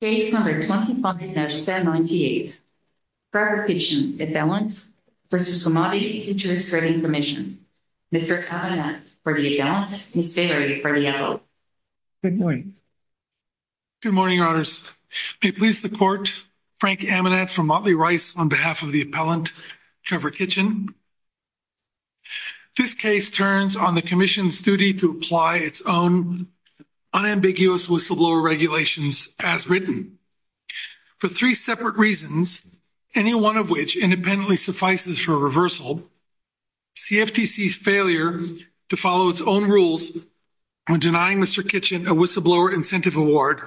Case number 25-98, Trevor Kitchen, appellant, v. Montley Rice, on behalf of the appellant, Trevor Kitchen. Good morning. Good morning, Your Honours. May it please the Court, Frank Amanat, from Montley Rice, on behalf of the appellant, Trevor Kitchen. This case turns on the Commission's duty to apply its own unambiguous whistleblower regulations as written. For three separate reasons, any one of which independently suffices for reversal, CFTC's failure to follow its own rules when denying Mr. Kitchen a whistleblower incentive award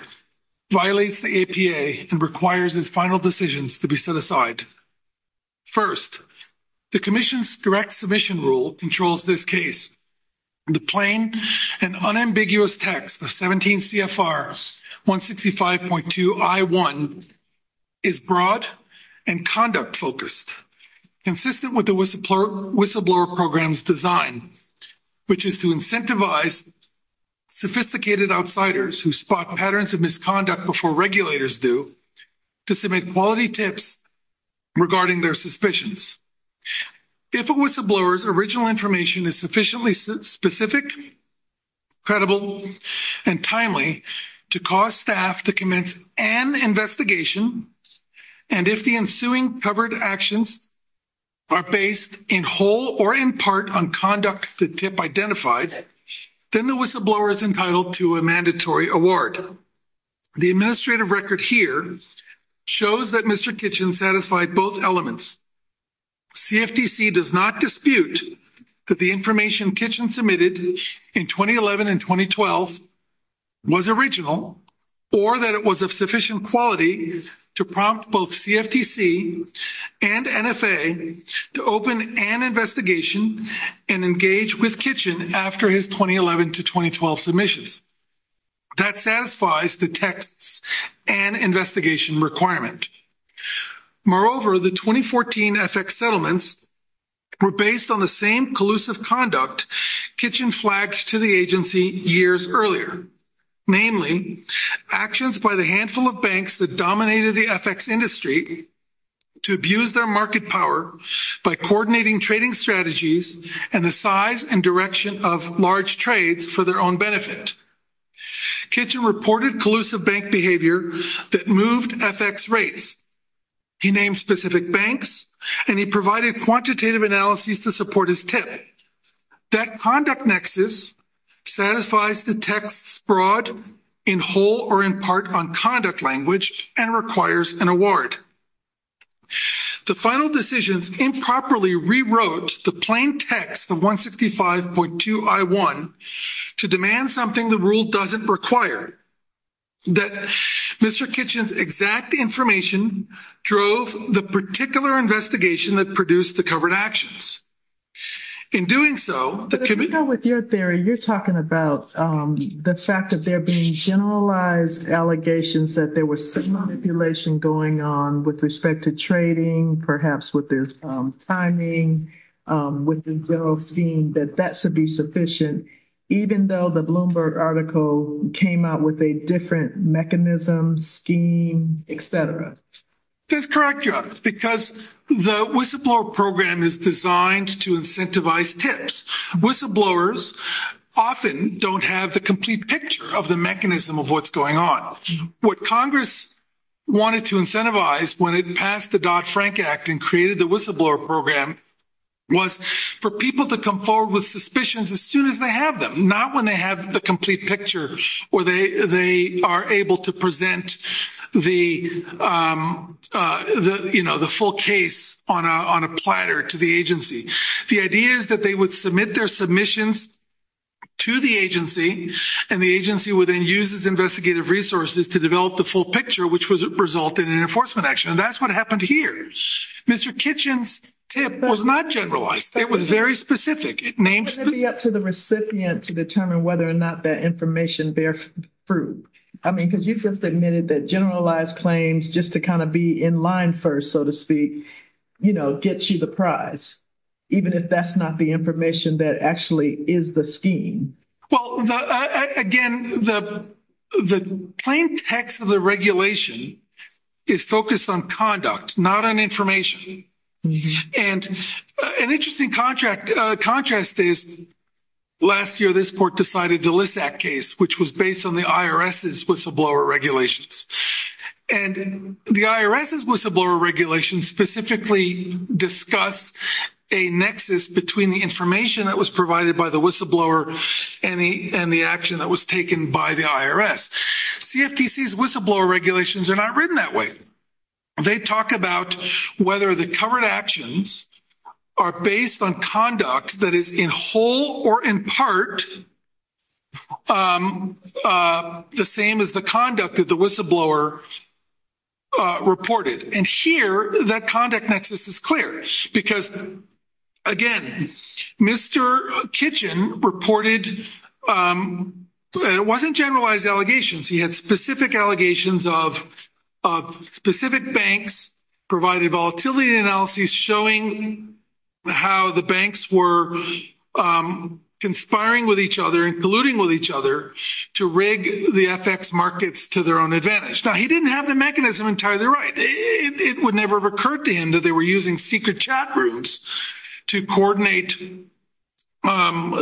violates the APA and requires its final decisions to be set aside. First, the Commission's direct submission rule controls this case. The plain and unambiguous text of 17 CFR 165.2 I.1 is broad and conduct-focused, consistent with the whistleblower program's design, which is to incentivize sophisticated outsiders who spot patterns of misconduct before regulators do to submit quality tips regarding their suspicions. If a whistleblower's original information is sufficiently specific, credible, and timely to cause staff to commence an investigation, and if the ensuing covered actions are based in whole or in part on conduct the tip identified, then the whistleblower is entitled to a mandatory award. The administrative record here shows that Mr. Kitchen satisfied both elements. CFTC does not dispute that the information Kitchen submitted in 2011 and 2012 was original, or that it was of sufficient quality to prompt both CFTC and NFA to open an investigation and engage with Kitchen after his 2011 to 2012 submissions. That satisfies the texts and investigation requirement. Moreover, the 2014 FX settlements were based on the same collusive conduct Kitchen flagged to the agency years earlier, namely actions by the handful of banks that dominated the FX industry to abuse their market power by coordinating trading strategies and the size and direction of large trades for their own benefit. Kitchen reported collusive bank behavior that moved FX rates. He named specific banks, and he provided quantitative analyses to support his tip. That conduct nexus satisfies the texts broad in whole or in part on conduct language and requires an award. The final decisions improperly rewrote the plain text of 165.2 I-1 to demand something the rule doesn't require, that Mr. Kitchen's exact information drove the particular investigation that produced the covered actions. In doing so, the committee... With your theory, you're talking about the fact that they're being generalized allegations that there was some manipulation going on with respect to trading, perhaps with their timing, with the general scheme, that that should be sufficient, even though the Bloomberg article came out with a different mechanism, scheme, et cetera. That's correct, Your Honor, because the whistleblower program is designed to incentivize tips. Whistleblowers often don't have the complete picture of the mechanism of what's going on. What Congress wanted to incentivize when it passed the Dodd-Frank Act and created the whistleblower program was for people to come forward with suspicions as soon as they have them, not when they have the complete picture or they are able to present the full case on a platter to the agency. The idea is that they would submit their submissions to the agency, and the agency would then use its investigative resources to develop the full picture, which would result in an enforcement action. That's what happened here. Mr. Kitchen's tip was not generalized. It was very specific. It may be up to the recipient to determine whether or not that information bears fruit. I mean, because you first admitted that generalized claims, just to kind of be in line first, so to speak, you know, gets you the prize, even if that's not the information that actually is the scheme. Well, again, the plain text of the regulation is focused on conduct, not on information. And an interesting contrast is last year, this court decided the LISAC case, which was based on the IRS's whistleblower regulations. And the IRS's whistleblower regulations specifically discuss a nexus between the information that was provided by the whistleblower and the action that was taken by the IRS. CFTC's whistleblower regulations are not written that way. They talk about whether the covered actions are based on conduct that is in whole or in part the same as the conduct that the whistleblower reported. And here, that conduct nexus is clear because, again, Mr. Kitchen reported that it wasn't generalized allegations. He had specific allegations of specific banks provided volatility analyses showing how the banks were conspiring with each other and colluding with each other to rig the FX markets to their own advantage. Now, he didn't have the mechanism entirely right. It would never have occurred to him that they were using secret chat rooms to coordinate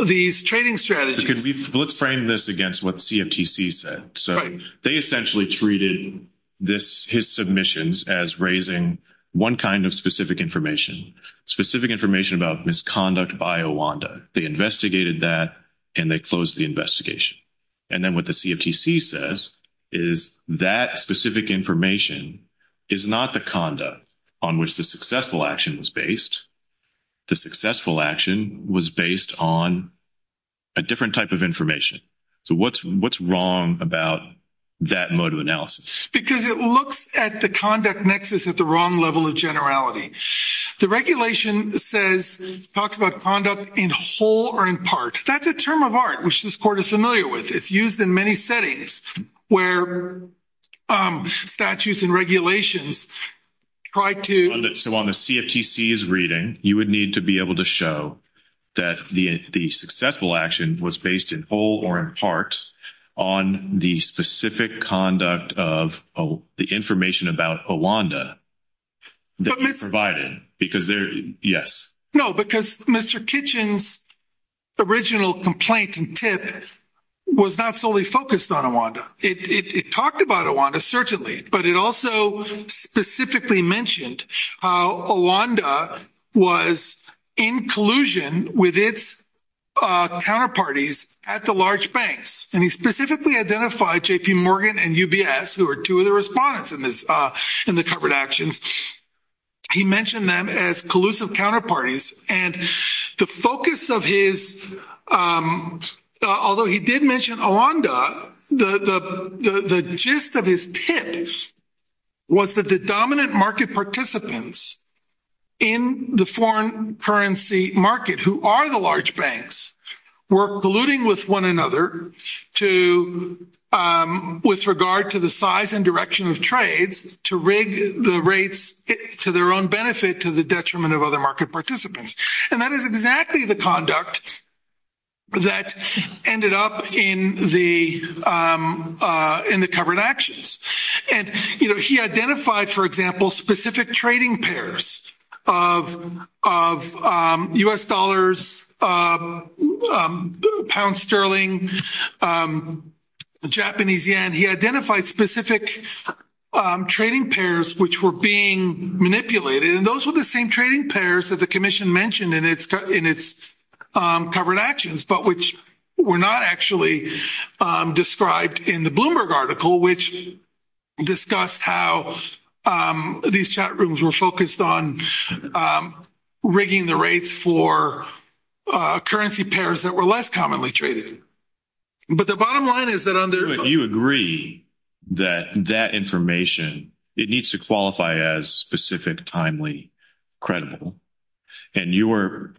these trading strategies. Let's frame this against what CFTC said. They essentially treated his submissions as raising one kind of specific information, specific information about misconduct by a WANDA. They investigated that and they closed the investigation. And then what the CFTC says is that specific information is not the conduct on which the successful action was based. The successful action was based on a different type of information. So what's wrong about that mode of analysis? Because it looks at the conduct nexus at the wrong level of generality. The regulation says, talks about conduct in whole or in part. That's a term of art which this court is familiar with. It's used in many settings where statutes and regulations try to So on the CFTC's reading, you would need to be able to show that the successful action was based in whole or in part on the specific conduct of the information about a WANDA that was provided. Because there, yes. No, because Mr. Kitchen's original complaint and tip was not solely focused on a WANDA. It talked about a WANDA, certainly. But it also specifically mentioned how a WANDA was in collusion with its counterparties at the large banks. And he specifically identified JP Morgan and UBS, who are two of the respondents in the covered actions. He mentioned them as collusive counterparties. And the focus of his, although he did mention a WANDA, the gist of his tip was that the dominant market participants in the foreign currency market, who are the large banks, were colluding with one another with regard to the size and direction of trades to rig the rates to their own benefit to the detriment of other market participants. And that is exactly the conduct that ended up in the covered actions. And, you know, he identified, for example, specific trading pairs of U.S. dollars, pound sterling, Japanese yen. He identified specific trading pairs which were being manipulated. And those were the same trading pairs that the commission mentioned in its covered actions, but which were not actually described in the Bloomberg article, which discussed how these chat rooms were focused on rigging the rates for currency pairs that were less commonly traded. But the bottom line is that under- credible. And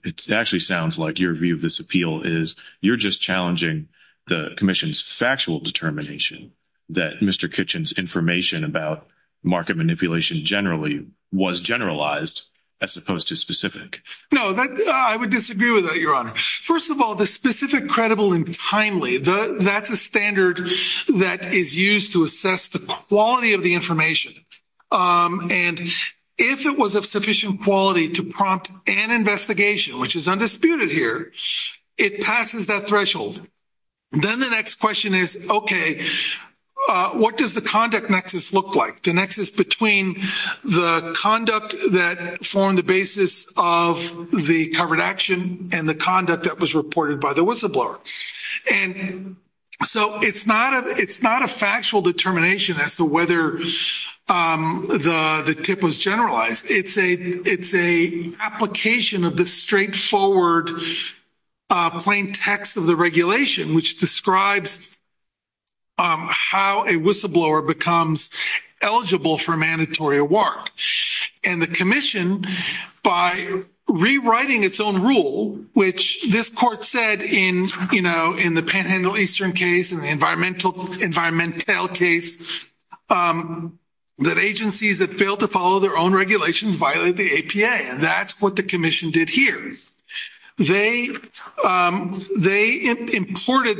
it actually sounds like your view of this appeal is you're just challenging the commission's factual determination that Mr. Kitchen's information about market manipulation generally was generalized as opposed to specific. No, I would disagree with that, Your Honor. First of all, the specific, credible, and timely, that's a standard that is used to assess the quality of the information. And if it was of sufficient quality to prompt an investigation, which is undisputed here, it passes that threshold. Then the next question is, okay, what does the conduct nexus look like? The nexus between the conduct that formed the basis of the covered action and the conduct that was reported by the whistleblower. And so it's not a factual determination as to whether the tip was generalized. It's an application of the straightforward plain text of the regulation, which describes how a whistleblower becomes eligible for a mandatory award. And the commission, by rewriting its own rule, which this court said in the Panhandle Eastern case and the environmental case, that agencies that fail to follow their own regulations violate the APA. That's what the commission did here. They imported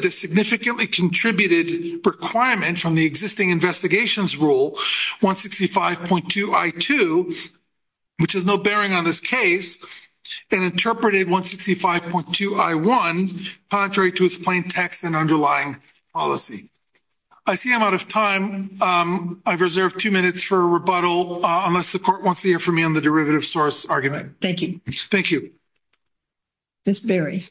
the significantly contributed requirement from the existing investigations rule 165.2 I-2, which has no bearing on this case, and interpreted 165.2 I-1 contrary to its plain text and underlying policy. I see I'm out of time. I've reserved two minutes for a rebuttal, unless the court wants to hear from me on the derivative source argument. Thank you. Thank you. Ms. Berry.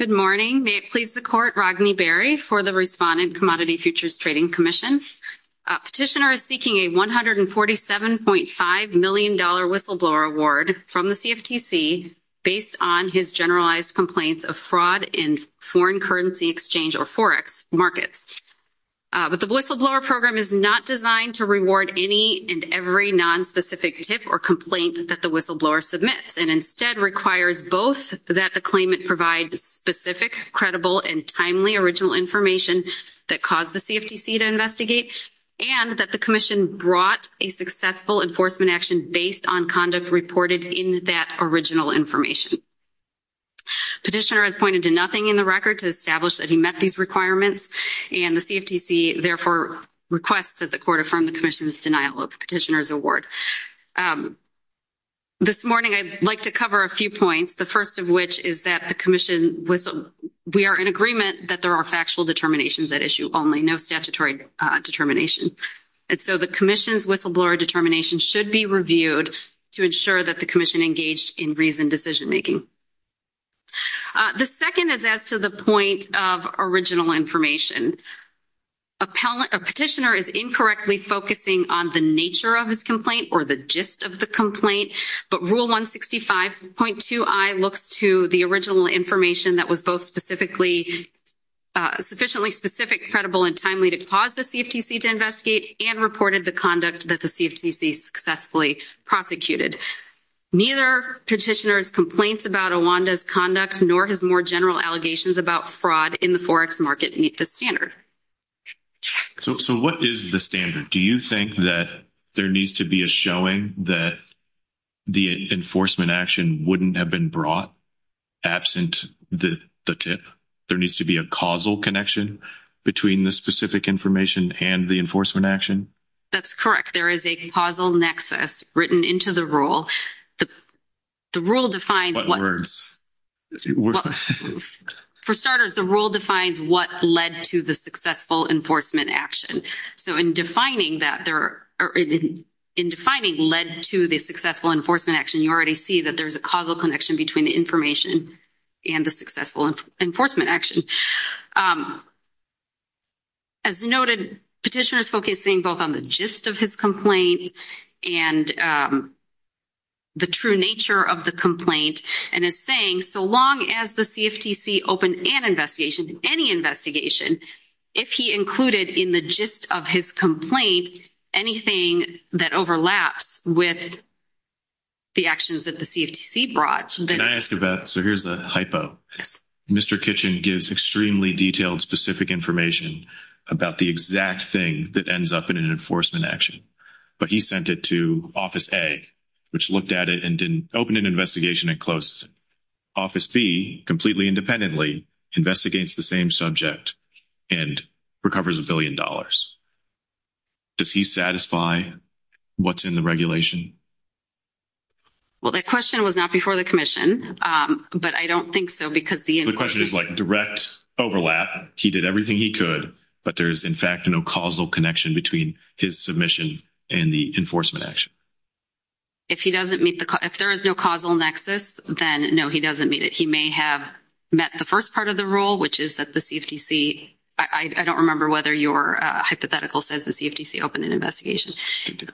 Good morning. May it please the court. Ragini Berry for the Respondent Commodity Futures Trading Commission. Petitioner is seeking a $147.5 million whistleblower award from the CFTC based on his generalized complaints of fraud in foreign currency exchange or forex markets. But the whistleblower program is not designed to reward any and every non-specific tip or that the whistleblower submits and instead requires both that the claimant provide specific, credible, and timely original information that caused the CFTC to investigate, and that the commission brought a successful enforcement action based on conduct reported in that original information. Petitioner has pointed to nothing in the record to establish that he met these requirements, and the CFTC therefore requests that the court affirm the commission's denial of petitioner's award. This morning, I'd like to cover a few points, the first of which is that the commission was—we are in agreement that there are factual determinations at issue only, no statutory determination. And so the commission's whistleblower determination should be reviewed to ensure that the commission engaged in reasoned decision making. The second is as to the point of original information. A petitioner is incorrectly focusing on the nature of his complaint or the gist of the complaint, but Rule 165.2i looks to the original information that was both sufficiently specific, credible, and timely to cause the CFTC to investigate and reported the conduct that the CFTC successfully prosecuted. Neither petitioner's complaints about Awanda's conduct nor his more general allegations about fraud in the Forex market meet this standard. So what is the standard? Do you think that there needs to be a showing that the enforcement action wouldn't have been brought absent the tip? There needs to be a causal connection between the specific information and the enforcement action? That's correct. There is a causal nexus written into the rule. The rule defines what— What words? For starters, the rule defines what led to the successful enforcement action. So in defining that there—or in defining led to the successful enforcement action, you already see that there's a causal connection between the information and the successful enforcement action. As noted, petitioner is focusing both on the gist of his complaint and the true nature of the complaint and is saying so long as the CFTC opened an investigation, any investigation, if he included in the gist of his complaint anything that overlaps with the actions that the CFTC brought, then— Can I ask about—so here's a hypo. Yes. Mr. Kitchen gives extremely detailed, specific information about the exact thing that ends up in an enforcement action, but he sent it to Office A, which looked at it and didn't open an investigation and closed it. Office B, completely independently, investigates the same subject and recovers a billion dollars. Does he satisfy what's in the regulation? Well, that question was not before the commission, but I don't think so because the— The question is like direct overlap. He did everything he could, but there is, in fact, no causal connection between his submission and the enforcement action. If he doesn't meet the—if there is no causal nexus, then no, he doesn't meet it. He may have met the first part of the rule, which is that the CFTC—I don't remember whether your hypothetical says the CFTC opened an investigation.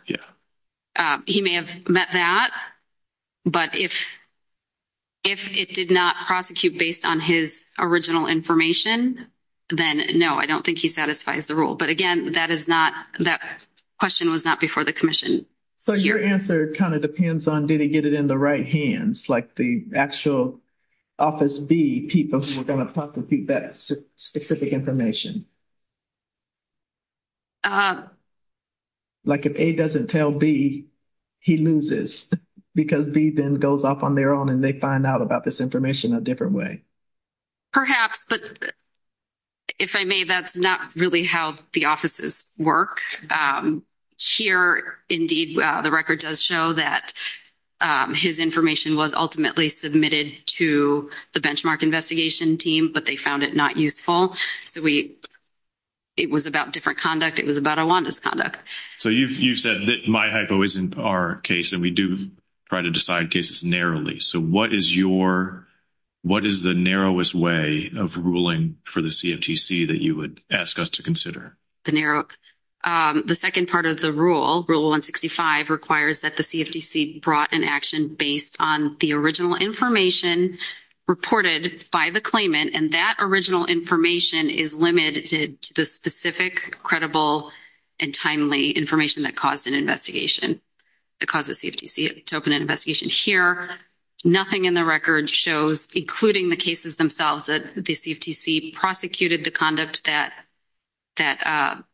Yeah. He may have met that, but if it did not prosecute based on his original information, then no, I don't think he satisfies the rule. But again, that is not—that question was not before the commission. So, your answer kind of depends on did he get it in the right hands, like the actual Office B people who were going to prosecute that specific information. Like if A doesn't tell B, he loses because B then goes off on their own and they find out about this information a different way. Perhaps, but if I may, that's not really how the offices work. Here, indeed, the record does show that his information was ultimately submitted to the benchmark investigation team, but they found it not useful. So, we—it was about different conduct. It was about Awanda's conduct. So, you've said that my hypo isn't our case, and we do try to decide cases narrowly. So, what is your—what is the narrowest way of ruling for the CFTC that you would ask us to consider? The narrow—the second part of the rule, Rule 165, requires that the CFTC brought an action based on the original information reported by the claimant, and that original information is limited to the specific, credible, and timely information that caused an investigation, that caused the CFTC to open an investigation. Here, nothing in the record shows, including the cases themselves, that the CFTC prosecuted the conduct that the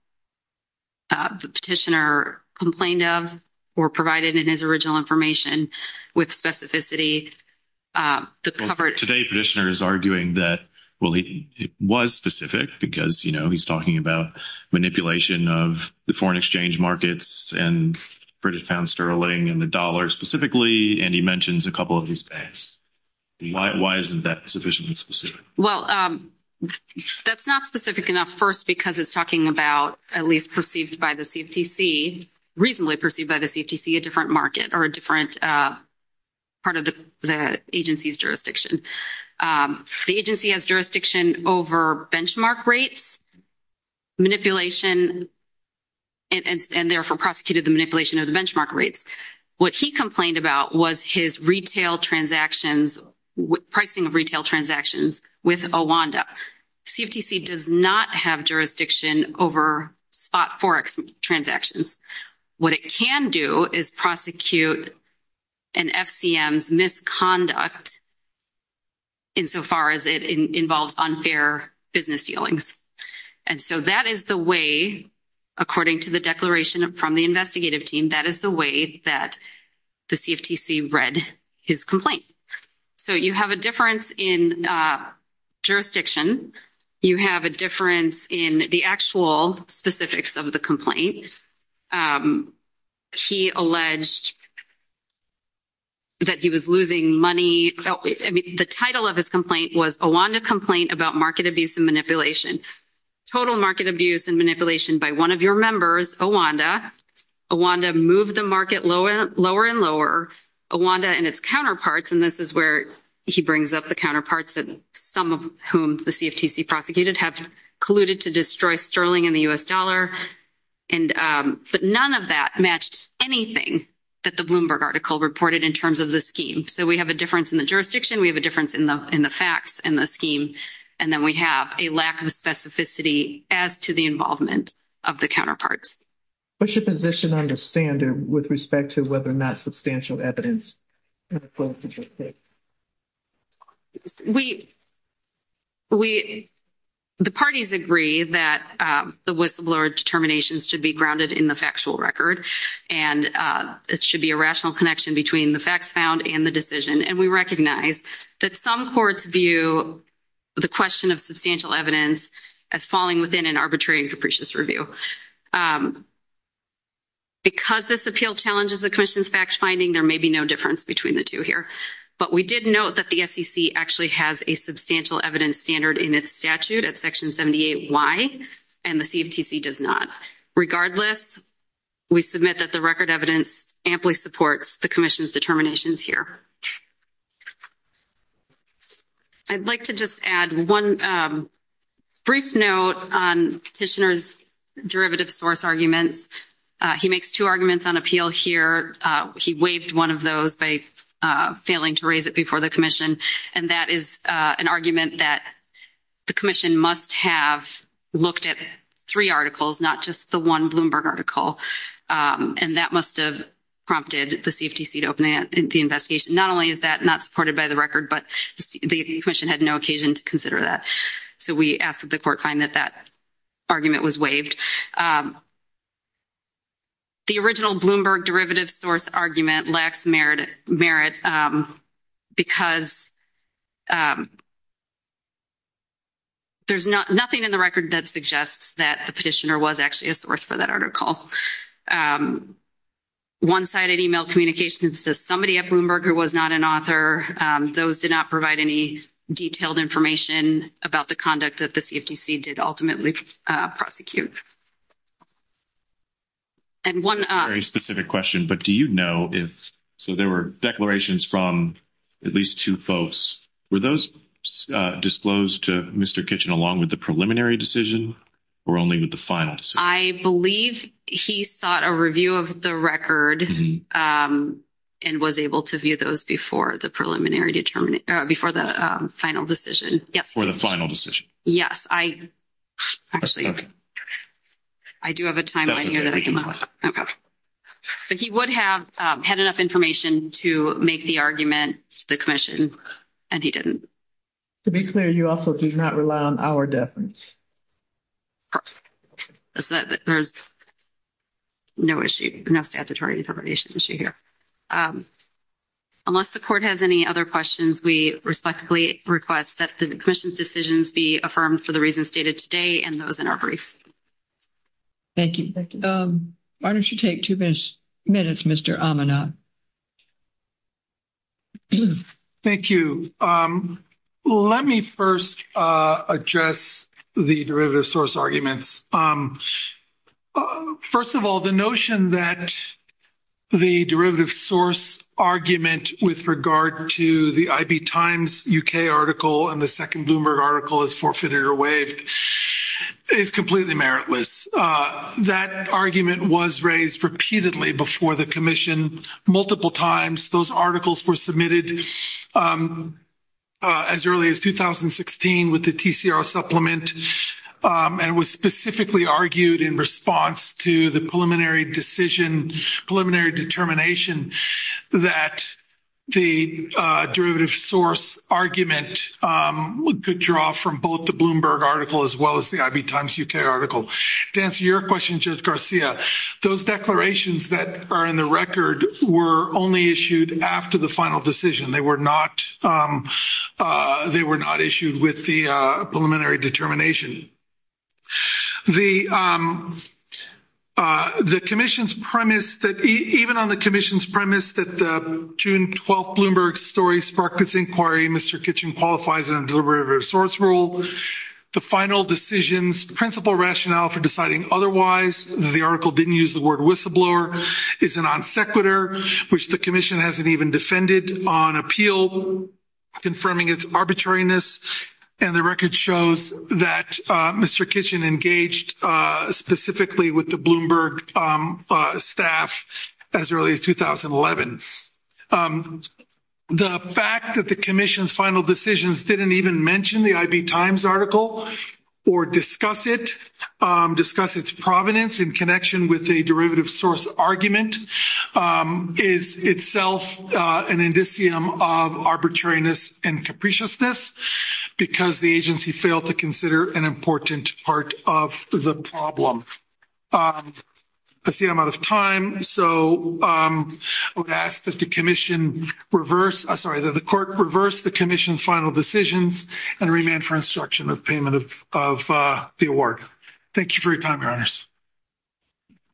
petitioner complained of or provided in his original information with specificity. The covered— Today, the petitioner is arguing that, well, he was specific because, you know, he's talking about manipulation of the foreign exchange markets, and Bridget found sterling and the dollar specifically, and he mentions a couple of these banks. Why isn't that sufficiently specific? Well, that's not specific enough, first, because it's talking about, at least perceived by the CFTC, reasonably perceived by the CFTC, a different market or a different part of the agency's jurisdiction. The agency has jurisdiction over benchmark rates, manipulation, and therefore prosecuted the manipulation of the benchmark rates. What he complained about was his retail transactions—pricing of retail transactions with Owanda. CFTC does not have jurisdiction over spot forex transactions. What it can do is prosecute an FCM's misconduct insofar as it involves unfair business dealings. And so that is the way, according to the declaration from the investigative team, that is the way that the CFTC read his complaint. So you have a difference in jurisdiction. You have a difference in the actual specifics of the complaint. He alleged that he was losing money—I mean, the title of his complaint was, Owanda Complaint About Market Abuse and Manipulation. Total market abuse and manipulation by one of your members, Owanda. Owanda moved the market lower and lower. Owanda and its counterparts—and this is where he brings up the counterparts, some of whom the CFTC prosecuted—have colluded to destroy sterling in the U.S. dollar. But none of that matched anything that the Bloomberg article reported in terms of the So we have a difference in the jurisdiction. We have a difference in the facts and the scheme. And then we have a lack of specificity as to the involvement of the counterparts. What's your position on the standard with respect to whether or not substantial evidence in the case? The parties agree that the whistleblower determinations should be grounded in the factual record, and it should be a rational connection between the facts found and the decision. And we recognize that some courts view the question of substantial evidence as falling within an arbitrary and capricious review. And because this appeal challenges the commission's fact-finding, there may be no difference between the two here. But we did note that the SEC actually has a substantial evidence standard in its statute at Section 78Y, and the CFTC does not. Regardless, we submit that the record evidence amply supports the commission's determinations here. I'd like to just add one brief note on Petitioner's derivative source arguments. He makes two arguments on appeal here. He waived one of those by failing to raise it before the commission. And that is an argument that the commission must have looked at three articles, not just the one Bloomberg article. And that must have prompted the CFTC to open the investigation. Not only is that not supported by the record, but the commission had no occasion to consider that. So we ask that the court find that that argument was waived. The original Bloomberg derivative source argument lacks merit because there's nothing in the record that suggests that the petitioner was actually a source for that article. One-sided e-mail communications to somebody at Bloomberg who was not an author, those did not provide any detailed information about the conduct that the CFTC did ultimately prosecute. And one other specific question, but do you know if so there were declarations from at least two folks, were those disclosed to Mr. Kitchen along with the preliminary decision or only with the final decision? I believe he sought a review of the record and was able to view those before the preliminary determination, before the final decision. Yes. For the final decision. Yes. I actually, I do have a timeline here that I came up with. But he would have had enough information to make the argument to the commission, and he didn't. To be clear, you also did not rely on our deference. There's no issue, no statutory determination issue here. Unless the court has any other questions, we respectfully request that the commission's decisions be affirmed for the reasons stated today and those in our briefs. Thank you. Why don't you take two minutes, Mr. Amanat. Thank you. Let me first address the derivative source arguments. First of all, the notion that the derivative source argument with regard to the IB Times UK article and the second Bloomberg article is forfeited or waived is completely meritless. That argument was raised repeatedly before the commission multiple times. Those articles were submitted as early as 2016 with the TCR supplement and was specifically argued in response to the preliminary decision, preliminary determination that the derivative source argument could draw from both the Bloomberg article as well as the IB Times UK article. To answer your question, Judge Garcia, those declarations that are in the record were only issued after the final decision. They were not issued with the preliminary determination. The commission's premise that even on the commission's premise that the June 12th Bloomberg story sparked this inquiry, Mr. Kitchen qualifies it under the derivative source rule. The final decision's principal rationale for deciding otherwise, the article didn't use the word whistleblower, is an on sequitur which the commission hasn't even defended on appeal confirming its arbitrariness and the record shows that Mr. Kitchen engaged specifically with the Bloomberg staff as early as 2011. The fact that the commission's final decisions didn't even mention the IB Times article or discuss it, discuss its provenance in connection with a derivative source argument is itself an indicium of arbitrariness and capriciousness because the agency failed to consider an important part of the problem. I see I'm out of time, so I would ask that the commission reverse, sorry, that the court reverse the commission's final decisions and remand for instruction of payment of the award. Thank you for your time, your honors.